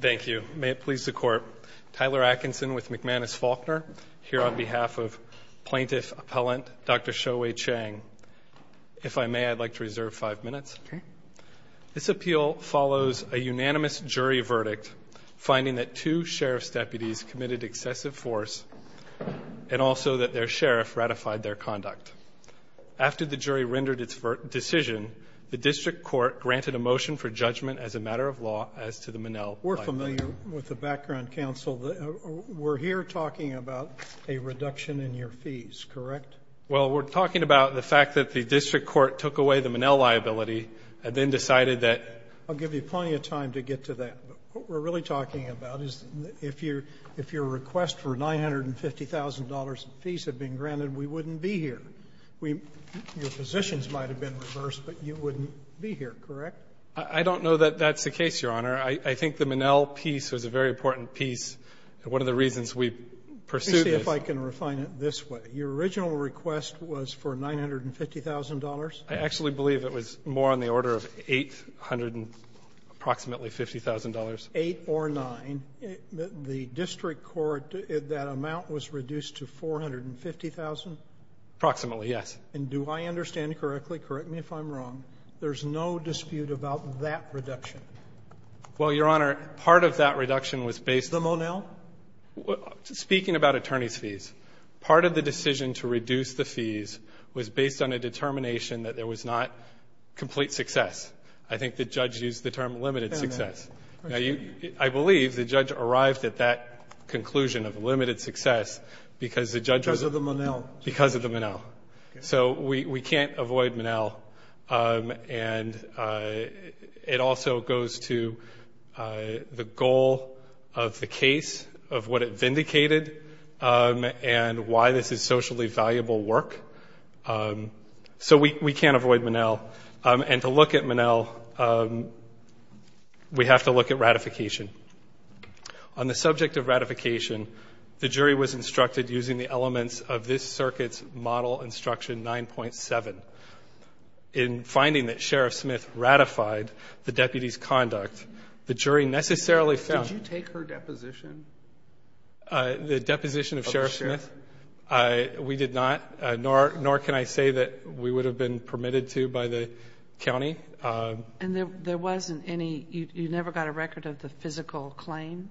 Thank you. May it please the Court. Tyler Atkinson with McManus Faulkner, here on behalf of plaintiff appellant Dr. Show-Huey Chang. If I may, I'd like to reserve five minutes. This appeal follows a unanimous jury verdict finding that two sheriff's deputies committed excessive force and also that their sheriff ratified their conduct. After the jury rendered its decision, the district court granted a motion for judgment as a matter of law as to the Monell liability. We're familiar with the background counsel. We're here talking about a reduction in your fees, correct? Well, we're talking about the fact that the district court took away the Monell liability and then decided that I'll give you plenty of time to get to that. But what we're really talking about is if your request for $950,000 in fees had been granted, we wouldn't be here. We — your positions might have been reversed, but you wouldn't be here, correct? I don't know that that's the case, Your Honor. I think the Monell piece was a very important piece. One of the reasons we pursued this — Let me see if I can refine it this way. Your original request was for $950,000? I actually believe it was more on the order of $850,000. Eight or nine. The district court, that amount was reduced to $450,000? Approximately, yes. And do I understand correctly — correct me if I'm wrong — there's no dispute about that reduction? Well, Your Honor, part of that reduction was based on — The Monell? Speaking about attorney's fees, part of the decision to reduce the fees was based on a determination that there was not complete success. I think the judge used the term limited success. I believe the judge arrived at that conclusion of limited success because the judge was — Because of the Monell. Because of the Monell. So we can't avoid Monell. And it also goes to the goal of the case, of what it vindicated, and why this is socially valuable work. So we can't avoid Monell. And to look at Monell, we have to look at ratification. On the subject of ratification, the jury was instructed using the elements of this circuit's model instruction 9.7. In finding that Sheriff Smith ratified the deputy's conduct, the jury necessarily found — Did you take her deposition? The deposition of Sheriff Smith? We did not, nor can I say that we would have been permitted to by the county. And there wasn't any — you never got a record of the physical claim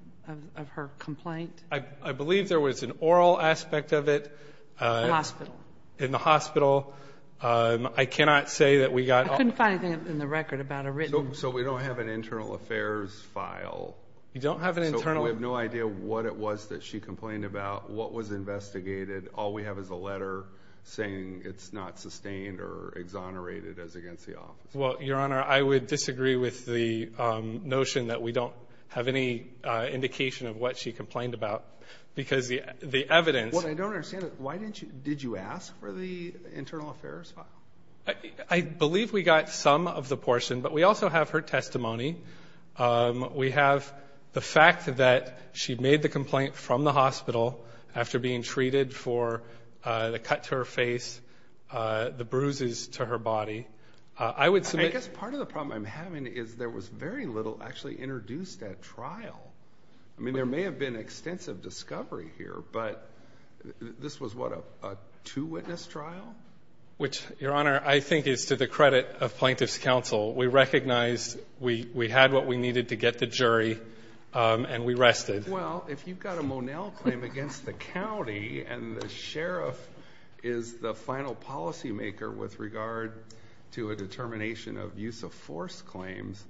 of her complaint? I believe there was an oral aspect of it. The hospital. In the hospital, I cannot say that we got — I couldn't find anything in the record about a written — So we don't have an internal affairs file. You don't have an internal — So we have no idea what it was that she complained about, what was investigated. All we have is a letter saying it's not sustained or exonerated as against the office. Well, Your Honor, I would disagree with the notion that we don't have any indication of what she complained about. Because the evidence — What I don't understand is why didn't you — did you ask for the internal affairs file? I believe we got some of the portion, but we also have her testimony. We have the fact that she made the complaint from the hospital after being treated for the cut to her face, the bruises to her body. I would submit — I guess part of the problem I'm having is there was very little actually introduced at trial. I mean, there may have been extensive discovery here, but this was, what, a two-witness trial? Which, Your Honor, I think is to the credit of Plaintiff's Counsel. We recognized we had what we needed to get the jury, and we rested. Well, if you've got a Monell claim against the county and the sheriff is the final policymaker with regard to a determination of use-of-force claims,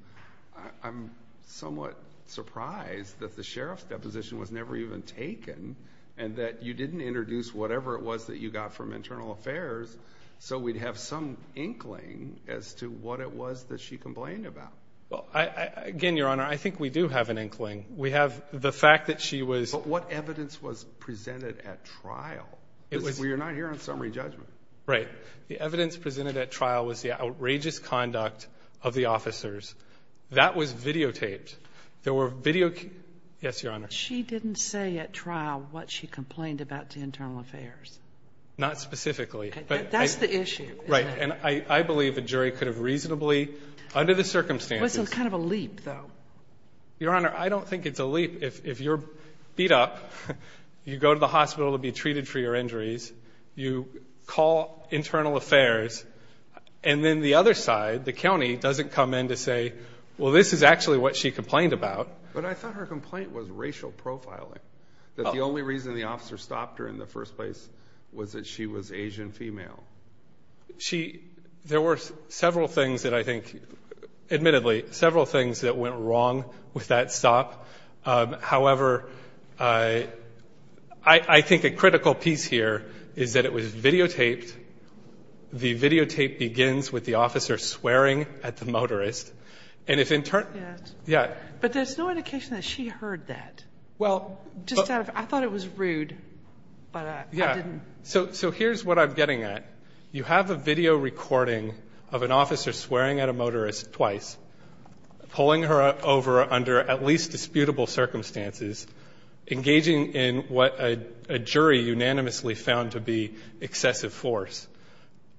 I'm somewhat surprised that the sheriff's deposition was never even taken and that you didn't introduce whatever it was that you got from internal affairs so we'd have some inkling as to what it was that she complained about. Well, again, Your Honor, I think we do have an inkling. We have the fact that she was — But what evidence was presented at trial? Because we are not here on summary judgment. Right. The evidence presented at trial was the outrageous conduct of the officers. That was videotaped. There were video — yes, Your Honor. She didn't say at trial what she complained about to internal affairs. Not specifically. Okay. That's the issue, isn't it? Right. And I believe the jury could have reasonably, under the circumstances — It was kind of a leap, though. Your Honor, I don't think it's a leap. If you're beat up, you go to the hospital to be treated for your injuries, you call internal affairs, and then the other side, the county, doesn't come in to say, well, this is actually what she complained about. But I thought her complaint was racial profiling, that the only reason the officer stopped her in the first place was that she was Asian female. There were several things that I think — admittedly, several things that went wrong with that stop. However, I think a critical piece here is that it was videotaped. The videotape begins with the officer swearing at the motorist. And if in turn — Yes. Yeah. But there's no indication that she heard that. Well — Just out of — I thought it was rude, but I didn't — So here's what I'm getting at. You have a video recording of an officer swearing at a motorist twice, pulling her over under at least disputable circumstances, engaging in what a jury unanimously found to be excessive force.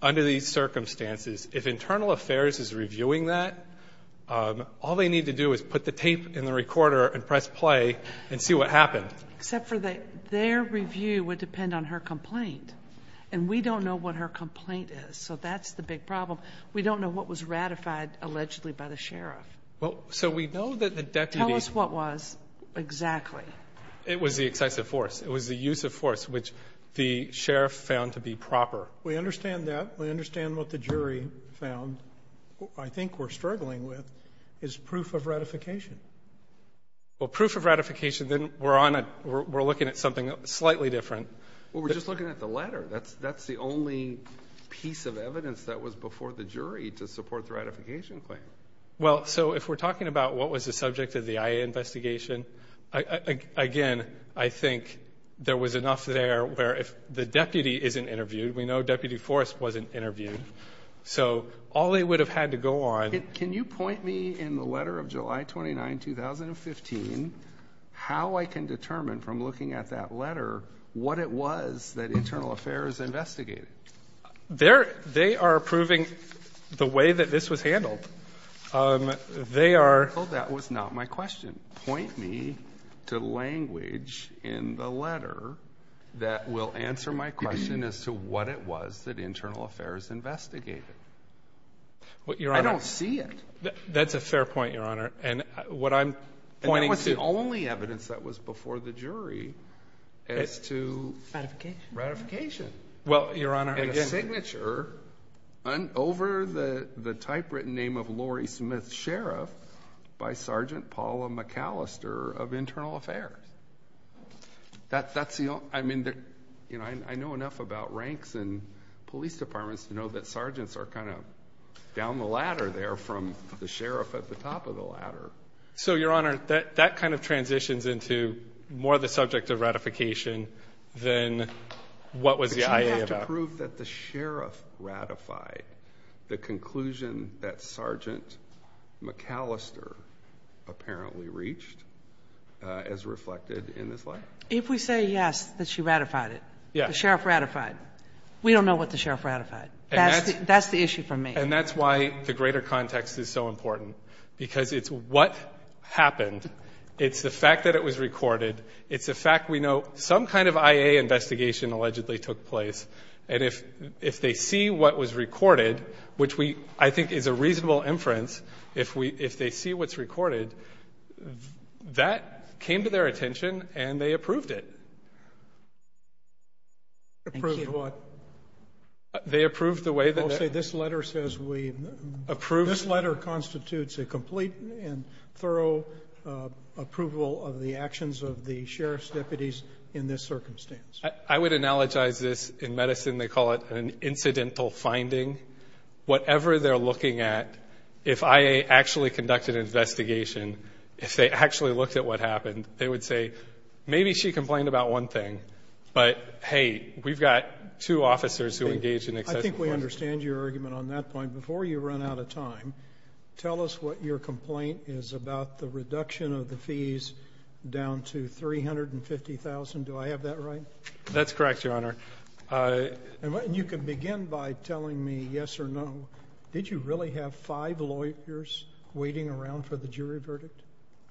Under these circumstances, if internal affairs is reviewing that, all they need to do is put the tape in the recorder and press play and see what happened. Except for their review would depend on her complaint. And we don't know what her complaint is. So that's the big problem. We don't know what was ratified allegedly by the sheriff. Well, so we know that the deputy — Tell us what was exactly. It was the excessive force. It was the use of force, which the sheriff found to be proper. We understand that. We understand what the jury found. I think we're struggling with is proof of ratification. Well, proof of ratification, then we're on a — we're looking at something slightly different. Well, we're just looking at the letter. That's the only piece of evidence that was before the jury to support the ratification claim. Well, so if we're talking about what was the subject of the IA investigation, again, I think there was enough there where if the deputy isn't interviewed, we know Deputy Forrest wasn't interviewed. So all they would have had to go on — Can you point me in the letter of July 29, 2015, how I can determine from looking at that letter what it was that Internal Affairs investigated? They're — they are approving the way that this was handled. They are — Well, that was not my question. Point me to language in the letter that will answer my question as to what it was that Internal Affairs investigated. Well, Your Honor — I don't see it. That's a fair point, Your Honor. And what I'm pointing — That was the only evidence that was before the jury as to — Ratification? Ratification. Well, Your Honor — And a signature over the typewritten name of Lori Smith, Sheriff, by Sergeant Paula McAllister of Internal Affairs. That's the only — I mean, I know enough about ranks and police departments to know that sergeants are kind of down the ladder there from the sheriff at the top of the ladder. So, Your Honor, that kind of transitions into more the subject of ratification than what was the IA about. But you have to prove that the sheriff ratified the conclusion that Sergeant McAllister apparently reached as reflected in this letter? If we say, yes, that she ratified it, the sheriff ratified, we don't know what the sheriff ratified. That's the issue for me. And that's why the greater context is so important, because it's what happened. It's the fact that it was recorded. It's the fact we know some kind of IA investigation allegedly took place. And if they see what was recorded, which I think is a reasonable inference, if they see what's recorded, that came to their attention and they approved it. Approved what? They approved the way that — I'll say this letter says we — Approved — This letter constitutes a complete and thorough approval of the actions of the sheriff's deputies in this circumstance. I would analogize this in medicine. They call it an incidental finding. Whatever they're looking at, if I actually conducted an investigation, if they actually looked at what happened, they would say, maybe she complained about one thing. But, hey, we've got two officers who engaged in excessive violence. I think we understand your argument on that point. Before you run out of time, tell us what your complaint is about the reduction of the fees down to $350,000. Do I have that right? That's correct, Your Honor. And you can begin by telling me yes or no. Did you really have five lawyers waiting around for the jury verdict?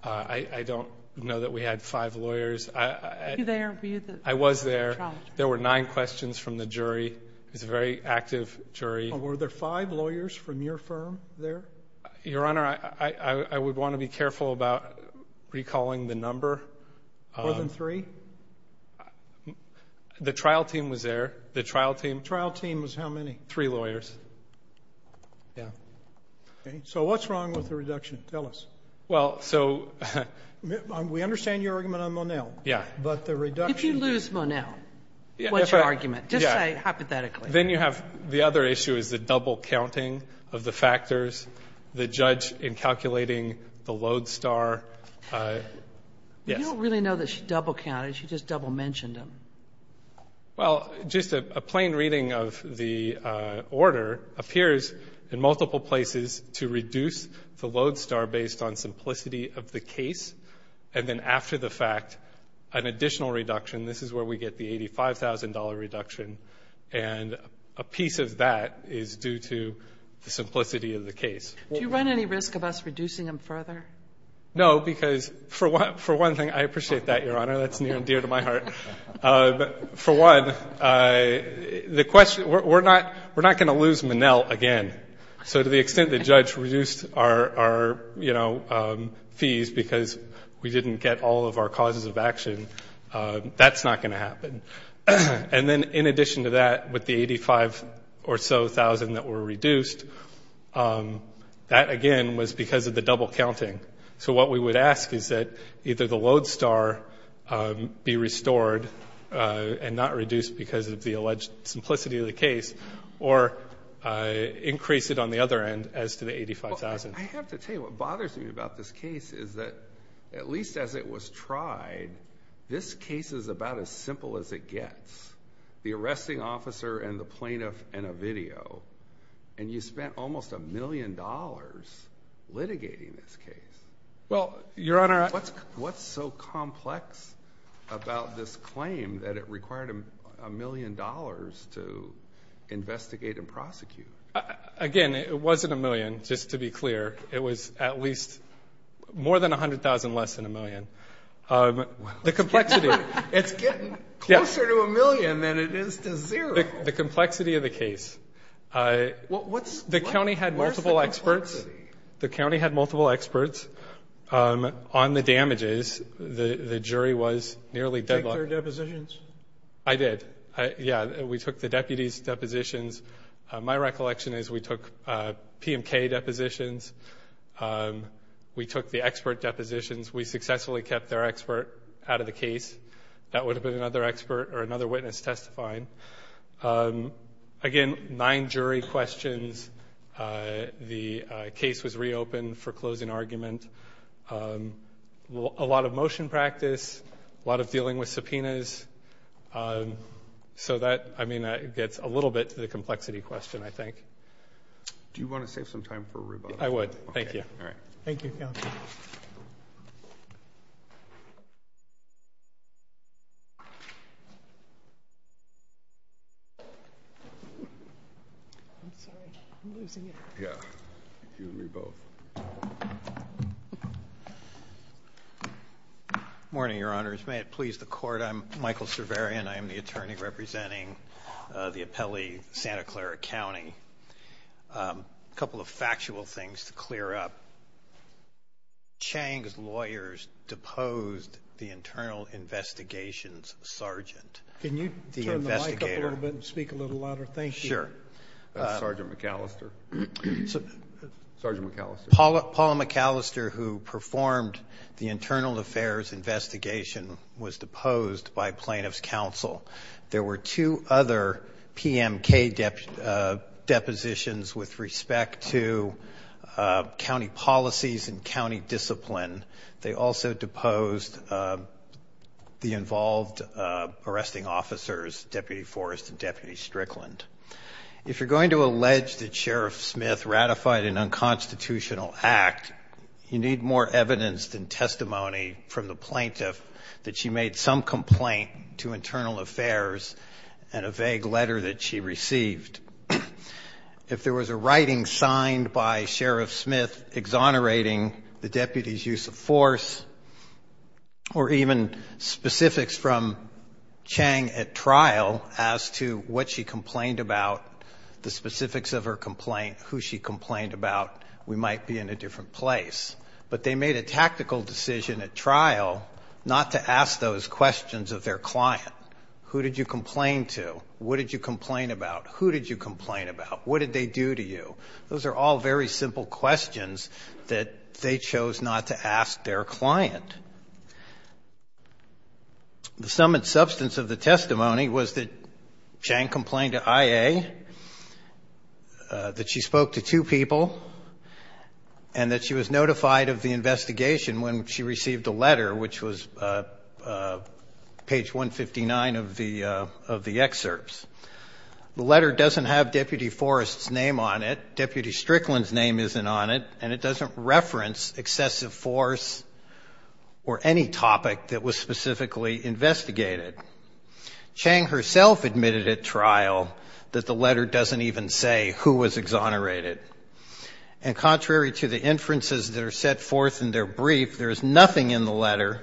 I don't know that we had five lawyers. Were you there? I was there. There were nine questions from the jury. It's a very active jury. Were there five lawyers from your firm there? Your Honor, I would want to be careful about recalling the number. More than three? The trial team was there. The trial team. Trial team was how many? Three lawyers. Yeah. So what's wrong with the reduction? Tell us. Well, so... We understand your argument on Monell. Yeah. But the reduction... If you lose Monell, what's your argument? Just say hypothetically. Then you have... The other issue is the double counting of the factors. The judge in calculating the lodestar... You don't really know that she double counted. She just double mentioned him. Well, just a plain reading of the order appears in multiple places to reduce the lodestar based on simplicity of the case. And then after the fact, an additional reduction. This is where we get the $85,000 reduction. And a piece of that is due to the simplicity of the case. Do you run any risk of us reducing him further? No, because for one thing... I appreciate that, your Honor. That's near and dear to my heart. For one, the question... We're not going to lose Monell again. So to the extent the judge reduced our fees because we didn't get all of our causes of action, that's not going to happen. And then in addition to that, with the $85,000 or so that were reduced, that again was because of the double counting. So what we would ask is that either the lodestar be restored and not reduced because of the alleged simplicity of the case, or increase it on the other end as to the $85,000. I have to tell you what bothers me about this case is that at least as it was tried, this case is about as simple as it gets. The arresting officer and the plaintiff and a video. And you spent almost a million dollars litigating this case. Well, your Honor... What's so complex about this claim that it required a million dollars to investigate and prosecute? Again, it wasn't a million, just to be clear. It was at least more than $100,000 less than a million. The complexity... It's getting closer to a million than it is to zero. The complexity of the case. What's... The county had multiple experts. The county had multiple experts on the damages. The jury was nearly deadlocked. Did you take their depositions? I did. Yeah, we took the deputies' depositions. My recollection is we took PMK depositions. We took the expert depositions. We successfully kept their expert out of the case. That would have been another expert or another witness testifying. Again, nine jury questions. The case was reopened for closing argument. A lot of motion practice. A lot of dealing with subpoenas. I mean, that gets a little bit to the complexity question, I think. Do you want to save some time for a rebuttal? I would. Thank you. All right. Thank you, Counselor. I'm sorry. I'm losing it. Morning, Your Honors. May it please the Court. I'm Michael Cerveria, and I am the attorney representing the appellee, Santa Clara County. A couple of factual things to clear up. Chang's lawyers deposed the internal investigations sergeant. Can you turn the mic up a little bit and speak a little louder? Thank you. Sure. Sergeant McAllister. Sergeant McAllister. Paula McAllister, who performed the internal affairs investigation, was deposed by plaintiff's counsel. There were two other PMK depositions with respect to county policies and county discipline. They also deposed the involved arresting officers, Deputy Forrest and Deputy Strickland. If you're going to allege that Sheriff Smith ratified an unconstitutional act, you need more evidence than testimony from the plaintiff that she made some complaint to internal affairs and a vague letter that she received. If there was a writing signed by Sheriff Smith exonerating the deputy's use of force or even specifics from Chang at trial as to what she complained about, the specifics of her complaint, who she complained about, we might be in a different place. But they made a tactical decision at trial not to ask those questions of their client. Who did you complain to? What did you complain about? Who did you complain about? What did they do to you? Those are all very simple questions that they chose not to ask their client. The sum and substance of the testimony was that Chang complained to IA, that she spoke to two people, and that she was notified of the investigation when she received a letter, which was page 159 of the excerpts. The letter doesn't have Deputy Forrest's name on it. Deputy Strickland's name isn't on it. And it doesn't reference excessive force or any topic that was specifically investigated. Chang herself admitted at trial that the letter doesn't even say who was exonerated. And contrary to the inferences that are set forth in their brief, there is nothing in the letter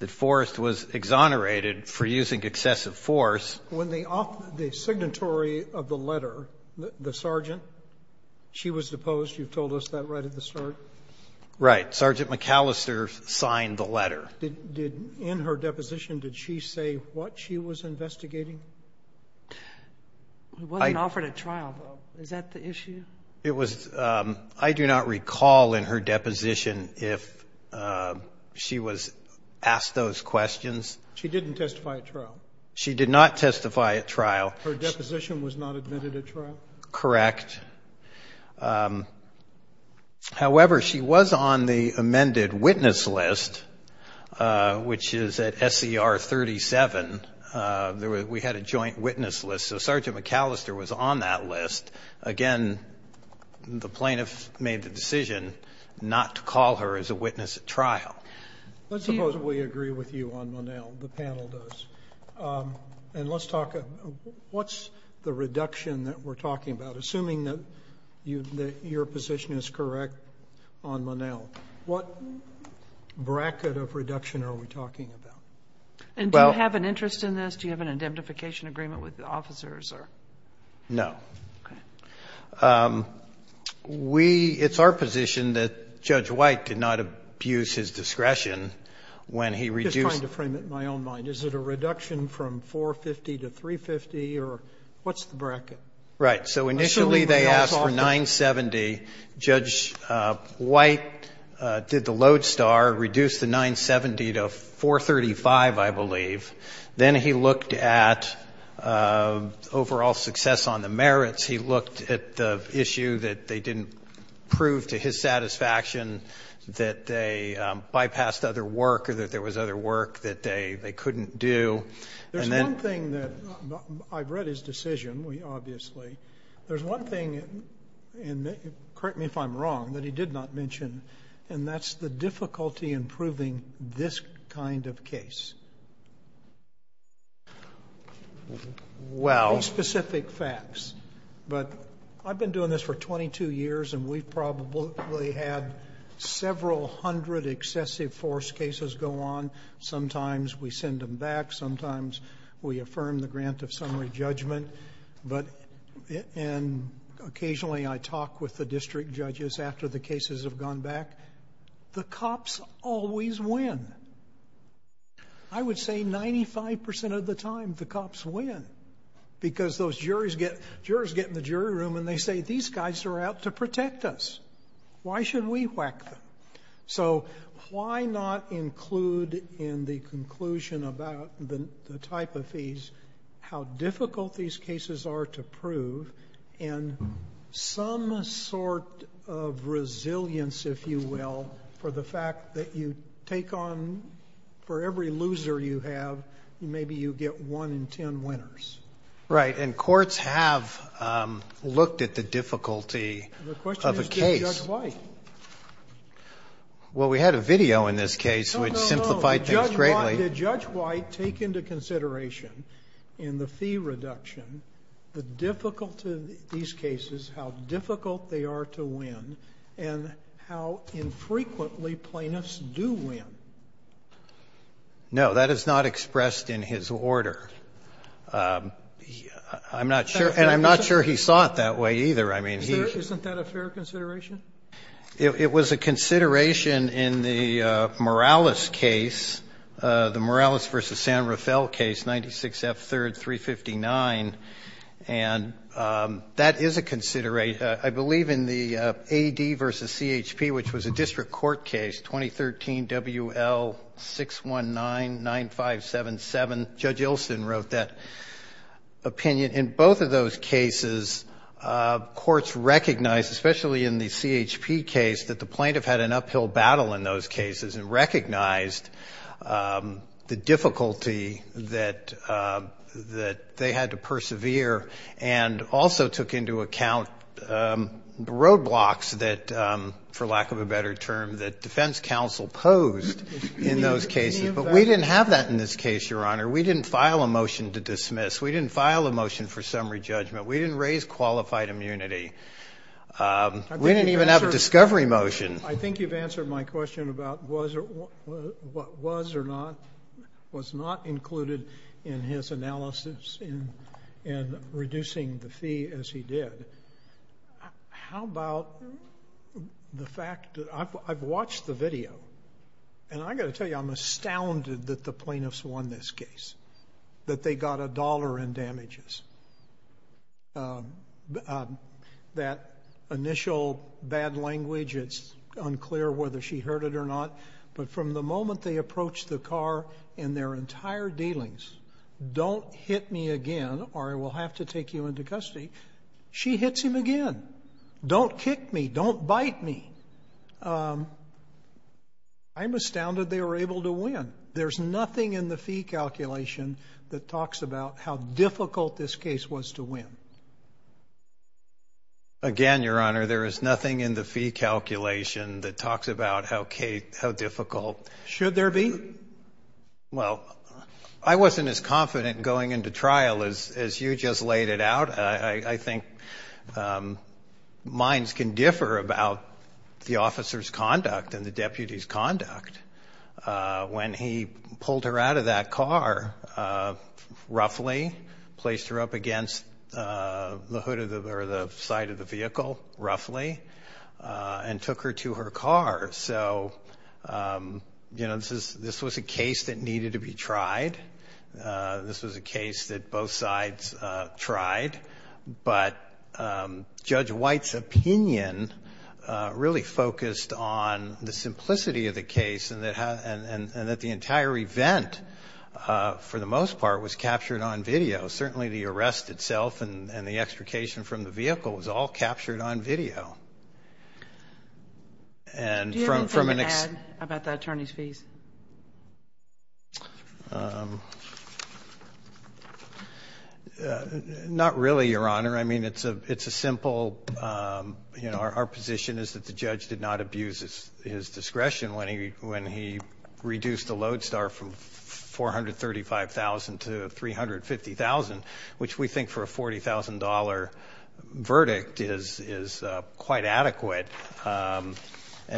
that Forrest was exonerated for using excessive force. When the signatory of the letter, the sergeant, she was deposed. You've told us that right at the start. Right. Sergeant McAllister signed the letter. In her deposition, did she say what she was investigating? It wasn't offered at trial, though. Is that the issue? It was. I do not recall in her deposition if she was asked those questions. She didn't testify at trial. She did not testify at trial. Her deposition was not admitted at trial? Correct. However, she was on the amended witness list, which is at SCR 37. We had a joint witness list. So Sergeant McAllister was on that list. Again, the plaintiff made the decision not to call her as a witness at trial. Let's suppose we agree with you on Monell. The panel does. And let's talk, what's the reduction that we're talking about? Assuming that your position is correct on Monell, what bracket of reduction are we talking about? And do you have an interest in this? Do you have an indemnification agreement with the officers? No. Okay. It's our position that Judge White did not abuse his discretion when he reduced. I'm just trying to frame it in my own mind. Is it a reduction from 450 to 350? Or what's the bracket? Right. So initially they asked for 970. Judge White did the lodestar, reduced the 970 to 435, I believe. Then he looked at overall success on the merits. He looked at the issue that they didn't prove to his satisfaction that they bypassed other work or that there was other work that they couldn't do. And then there's one thing that I've read his decision, obviously. There's one thing, and correct me if I'm wrong, that he did not mention, and that's the difficulty in proving this kind of case. Well... Specific facts. But I've been doing this for 22 years, and we've probably had several hundred excessive force cases go on. Sometimes we send them back. Sometimes we affirm the grant of summary judgment. And occasionally I talk with the district judges after the cases have gone back. The cops always win. I would say 95% of the time the cops win, because those jurors get in the jury room and they say, these guys are out to protect us. Why shouldn't we whack them? So why not include in the conclusion about the type of fees how difficult these cases are to prove, and some sort of resilience, if you will, for the fact that you take on, for every loser you have, maybe you get one in ten winners. Right. And courts have looked at the difficulty of a case. The question is, did Judge White? Well, we had a video in this case which simplified things greatly. Did Judge White take into consideration in the fee reduction the difficulty of these cases, how difficult they are to win, and how infrequently plaintiffs do win? No. That is not expressed in his order. I'm not sure. And I'm not sure he saw it that way either. I mean, he. Isn't that a fair consideration? It was a consideration in the Morales case, the Morales v. San Rafael case, 96 F. 3rd, 359. And that is a consideration. I believe in the AD v. CHP, which was a district court case, 2013 WL619-9577, Judge Ilsen wrote that opinion. In both of those cases, courts recognized, especially in the CHP case, that the plaintiff had an uphill battle in those cases, and recognized the difficulty that they had to persevere, and also took into account roadblocks that, for lack of a better term, that defense counsel posed in those cases. But we didn't have that in this case, Your Honor. We didn't file a motion to dismiss. We didn't file a motion for summary judgment. We didn't raise qualified immunity. We didn't even have a discovery motion. I think you've answered my question about what was or not included in his analysis in reducing the fee as he did. How about the fact that I've watched the video, and I got to tell you, I'm astounded that the plaintiffs won this case, that they got a dollar in damages. That initial bad language, it's unclear whether she heard it or not, but from the moment they approached the car in their entire dealings, don't hit me again, or I will have to take you into custody, she hits him again. Don't kick me. Don't bite me. I'm astounded they were able to win. There's nothing in the fee calculation that talks about how difficult this case was to win. Again, Your Honor, there is nothing in the fee calculation that talks about how difficult Should there be? Well, I wasn't as confident going into trial as you just laid it out. I think minds can differ about the officer's conduct and the deputy's conduct when he pulled her out of that car, roughly placed her up against the side of the vehicle, roughly, and took her to her car. So this was a case that needed to be tried. This was a case that both sides tried, but Judge White's opinion really focused on the and that the entire event, for the most part, was captured on video. Certainly the arrest itself and the extrication from the vehicle was all captured on video. Do you have anything to add about the attorney's fees? Not really, Your Honor. I mean, it's a simple, you know, our position is that the judge did not abuse his discretion when he reduced the lodestar from $435,000 to $350,000, which we think for a $40,000 verdict is quite adequate. And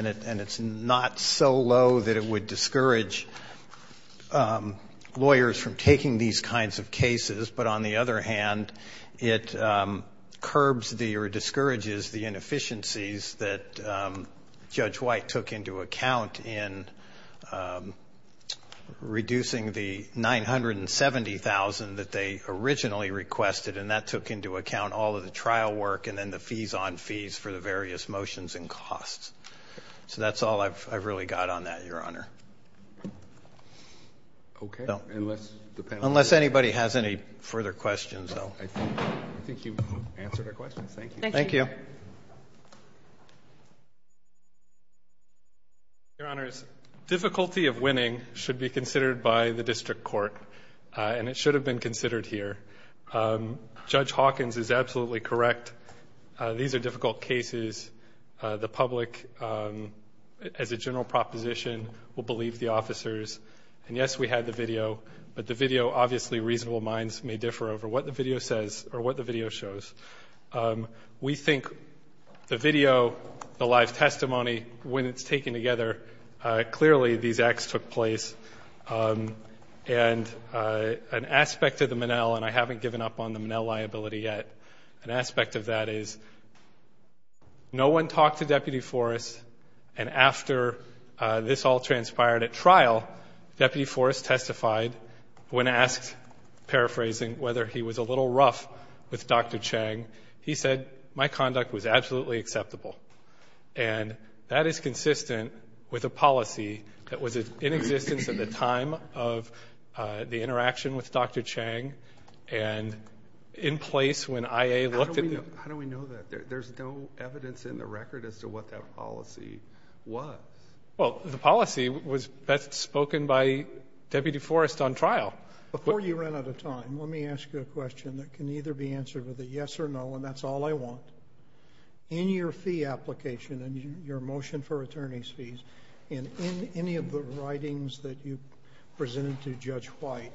it's not so low that it would discourage lawyers from taking these kinds of cases. But on the other hand, it curbs or discourages the inefficiencies that in reducing the $970,000 that they originally requested. And that took into account all of the trial work and then the fees on fees for the various motions and costs. So that's all I've really got on that, Your Honor. Unless anybody has any further questions. I think you've answered our questions. Thank you. Thank you. Your Honor, difficulty of winning should be considered by the district court. And it should have been considered here. Judge Hawkins is absolutely correct. These are difficult cases. The public, as a general proposition, will believe the officers. And yes, we had the video. But the video, obviously, reasonable minds may differ over what the video says or what the video shows. We think the video, the live testimony, when it's taken together, clearly these acts took place. And an aspect of the Minnell, and I haven't given up on the Minnell liability yet, an aspect of that is no one talked to Deputy Forrest, and after this all transpired at trial, Deputy Forrest testified when asked, paraphrasing, whether he was a little concerned about Dr. Chang. He said, my conduct was absolutely acceptable. And that is consistent with a policy that was in existence at the time of the interaction with Dr. Chang. And in place when IA looked at the- How do we know that? There's no evidence in the record as to what that policy was. Well, the policy was best spoken by Deputy Forrest on trial. Before you run out of time, let me ask you a question that can either be answered with a yes or no, and that's all I want. In your fee application and your motion for attorney's fees, and in any of the writings that you presented to Judge White,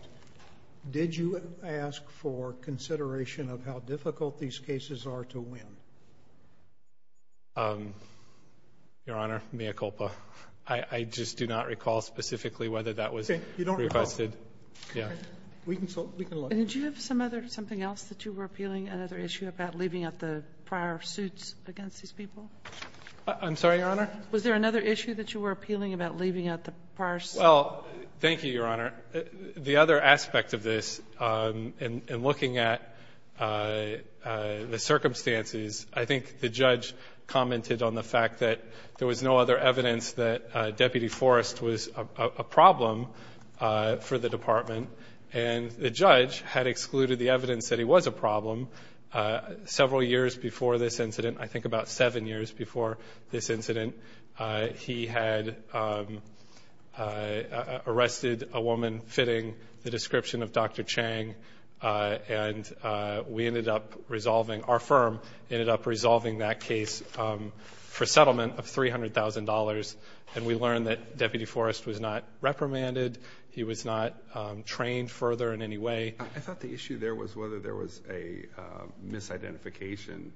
did you ask for consideration of how difficult these cases are to win? Your Honor, mea culpa. I just do not recall specifically whether that was requested. Okay. You don't recall? Yeah. We can look. Did you have something else that you were appealing, another issue about leaving out the prior suits against these people? I'm sorry, Your Honor? Was there another issue that you were appealing about leaving out the prior- Well, thank you, Your Honor. The other aspect of this, in looking at the circumstances, I think the judge commented on the fact that there was no other evidence that Deputy Forrest was a problem. The judge had excluded the evidence that he was a problem several years before this incident. I think about seven years before this incident, he had arrested a woman fitting the description of Dr. Chang, and we ended up resolving, our firm ended up resolving that case for settlement of $300,000, and we learned that Deputy Forrest was not trained further in any way. I thought the issue there was whether there was a misidentification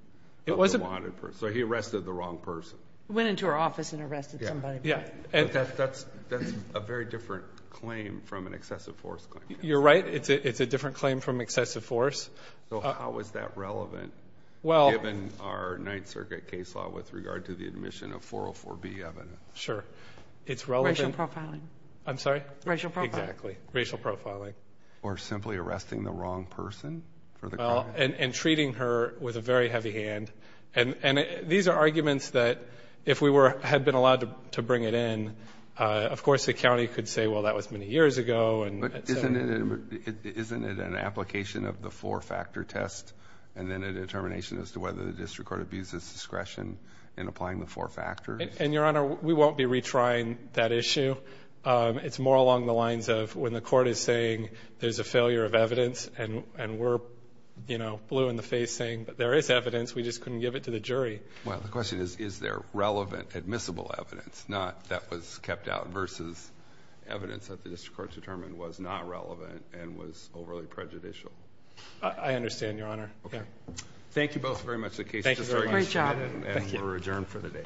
of the wanted person. So he arrested the wrong person. Went into her office and arrested somebody. Yeah. That's a very different claim from an excessive force claim. You're right. It's a different claim from excessive force. So how is that relevant given our Ninth Circuit case law with regard to the admission of 404B evidence? Sure. It's relevant- Racial profiling. I'm sorry? Racial profiling. Exactly. Racial profiling. Or simply arresting the wrong person for the crime? Well, and treating her with a very heavy hand. And these are arguments that if we had been allowed to bring it in, of course, the county could say, well, that was many years ago, and- But isn't it an application of the four-factor test and then a determination as to whether the district court abused its discretion in applying the four factors? And, Your Honor, we won't be retrying that issue. It's more along the lines of when the court is saying there's a failure of evidence and we're blue in the face saying, but there is evidence, we just couldn't give it to the jury. Well, the question is, is there relevant admissible evidence that was kept out versus evidence that the district court determined was not relevant and was overly prejudicial? I understand, Your Honor. Okay. Thank you both very much. The case is just very much- Great job. And we're adjourned for the day.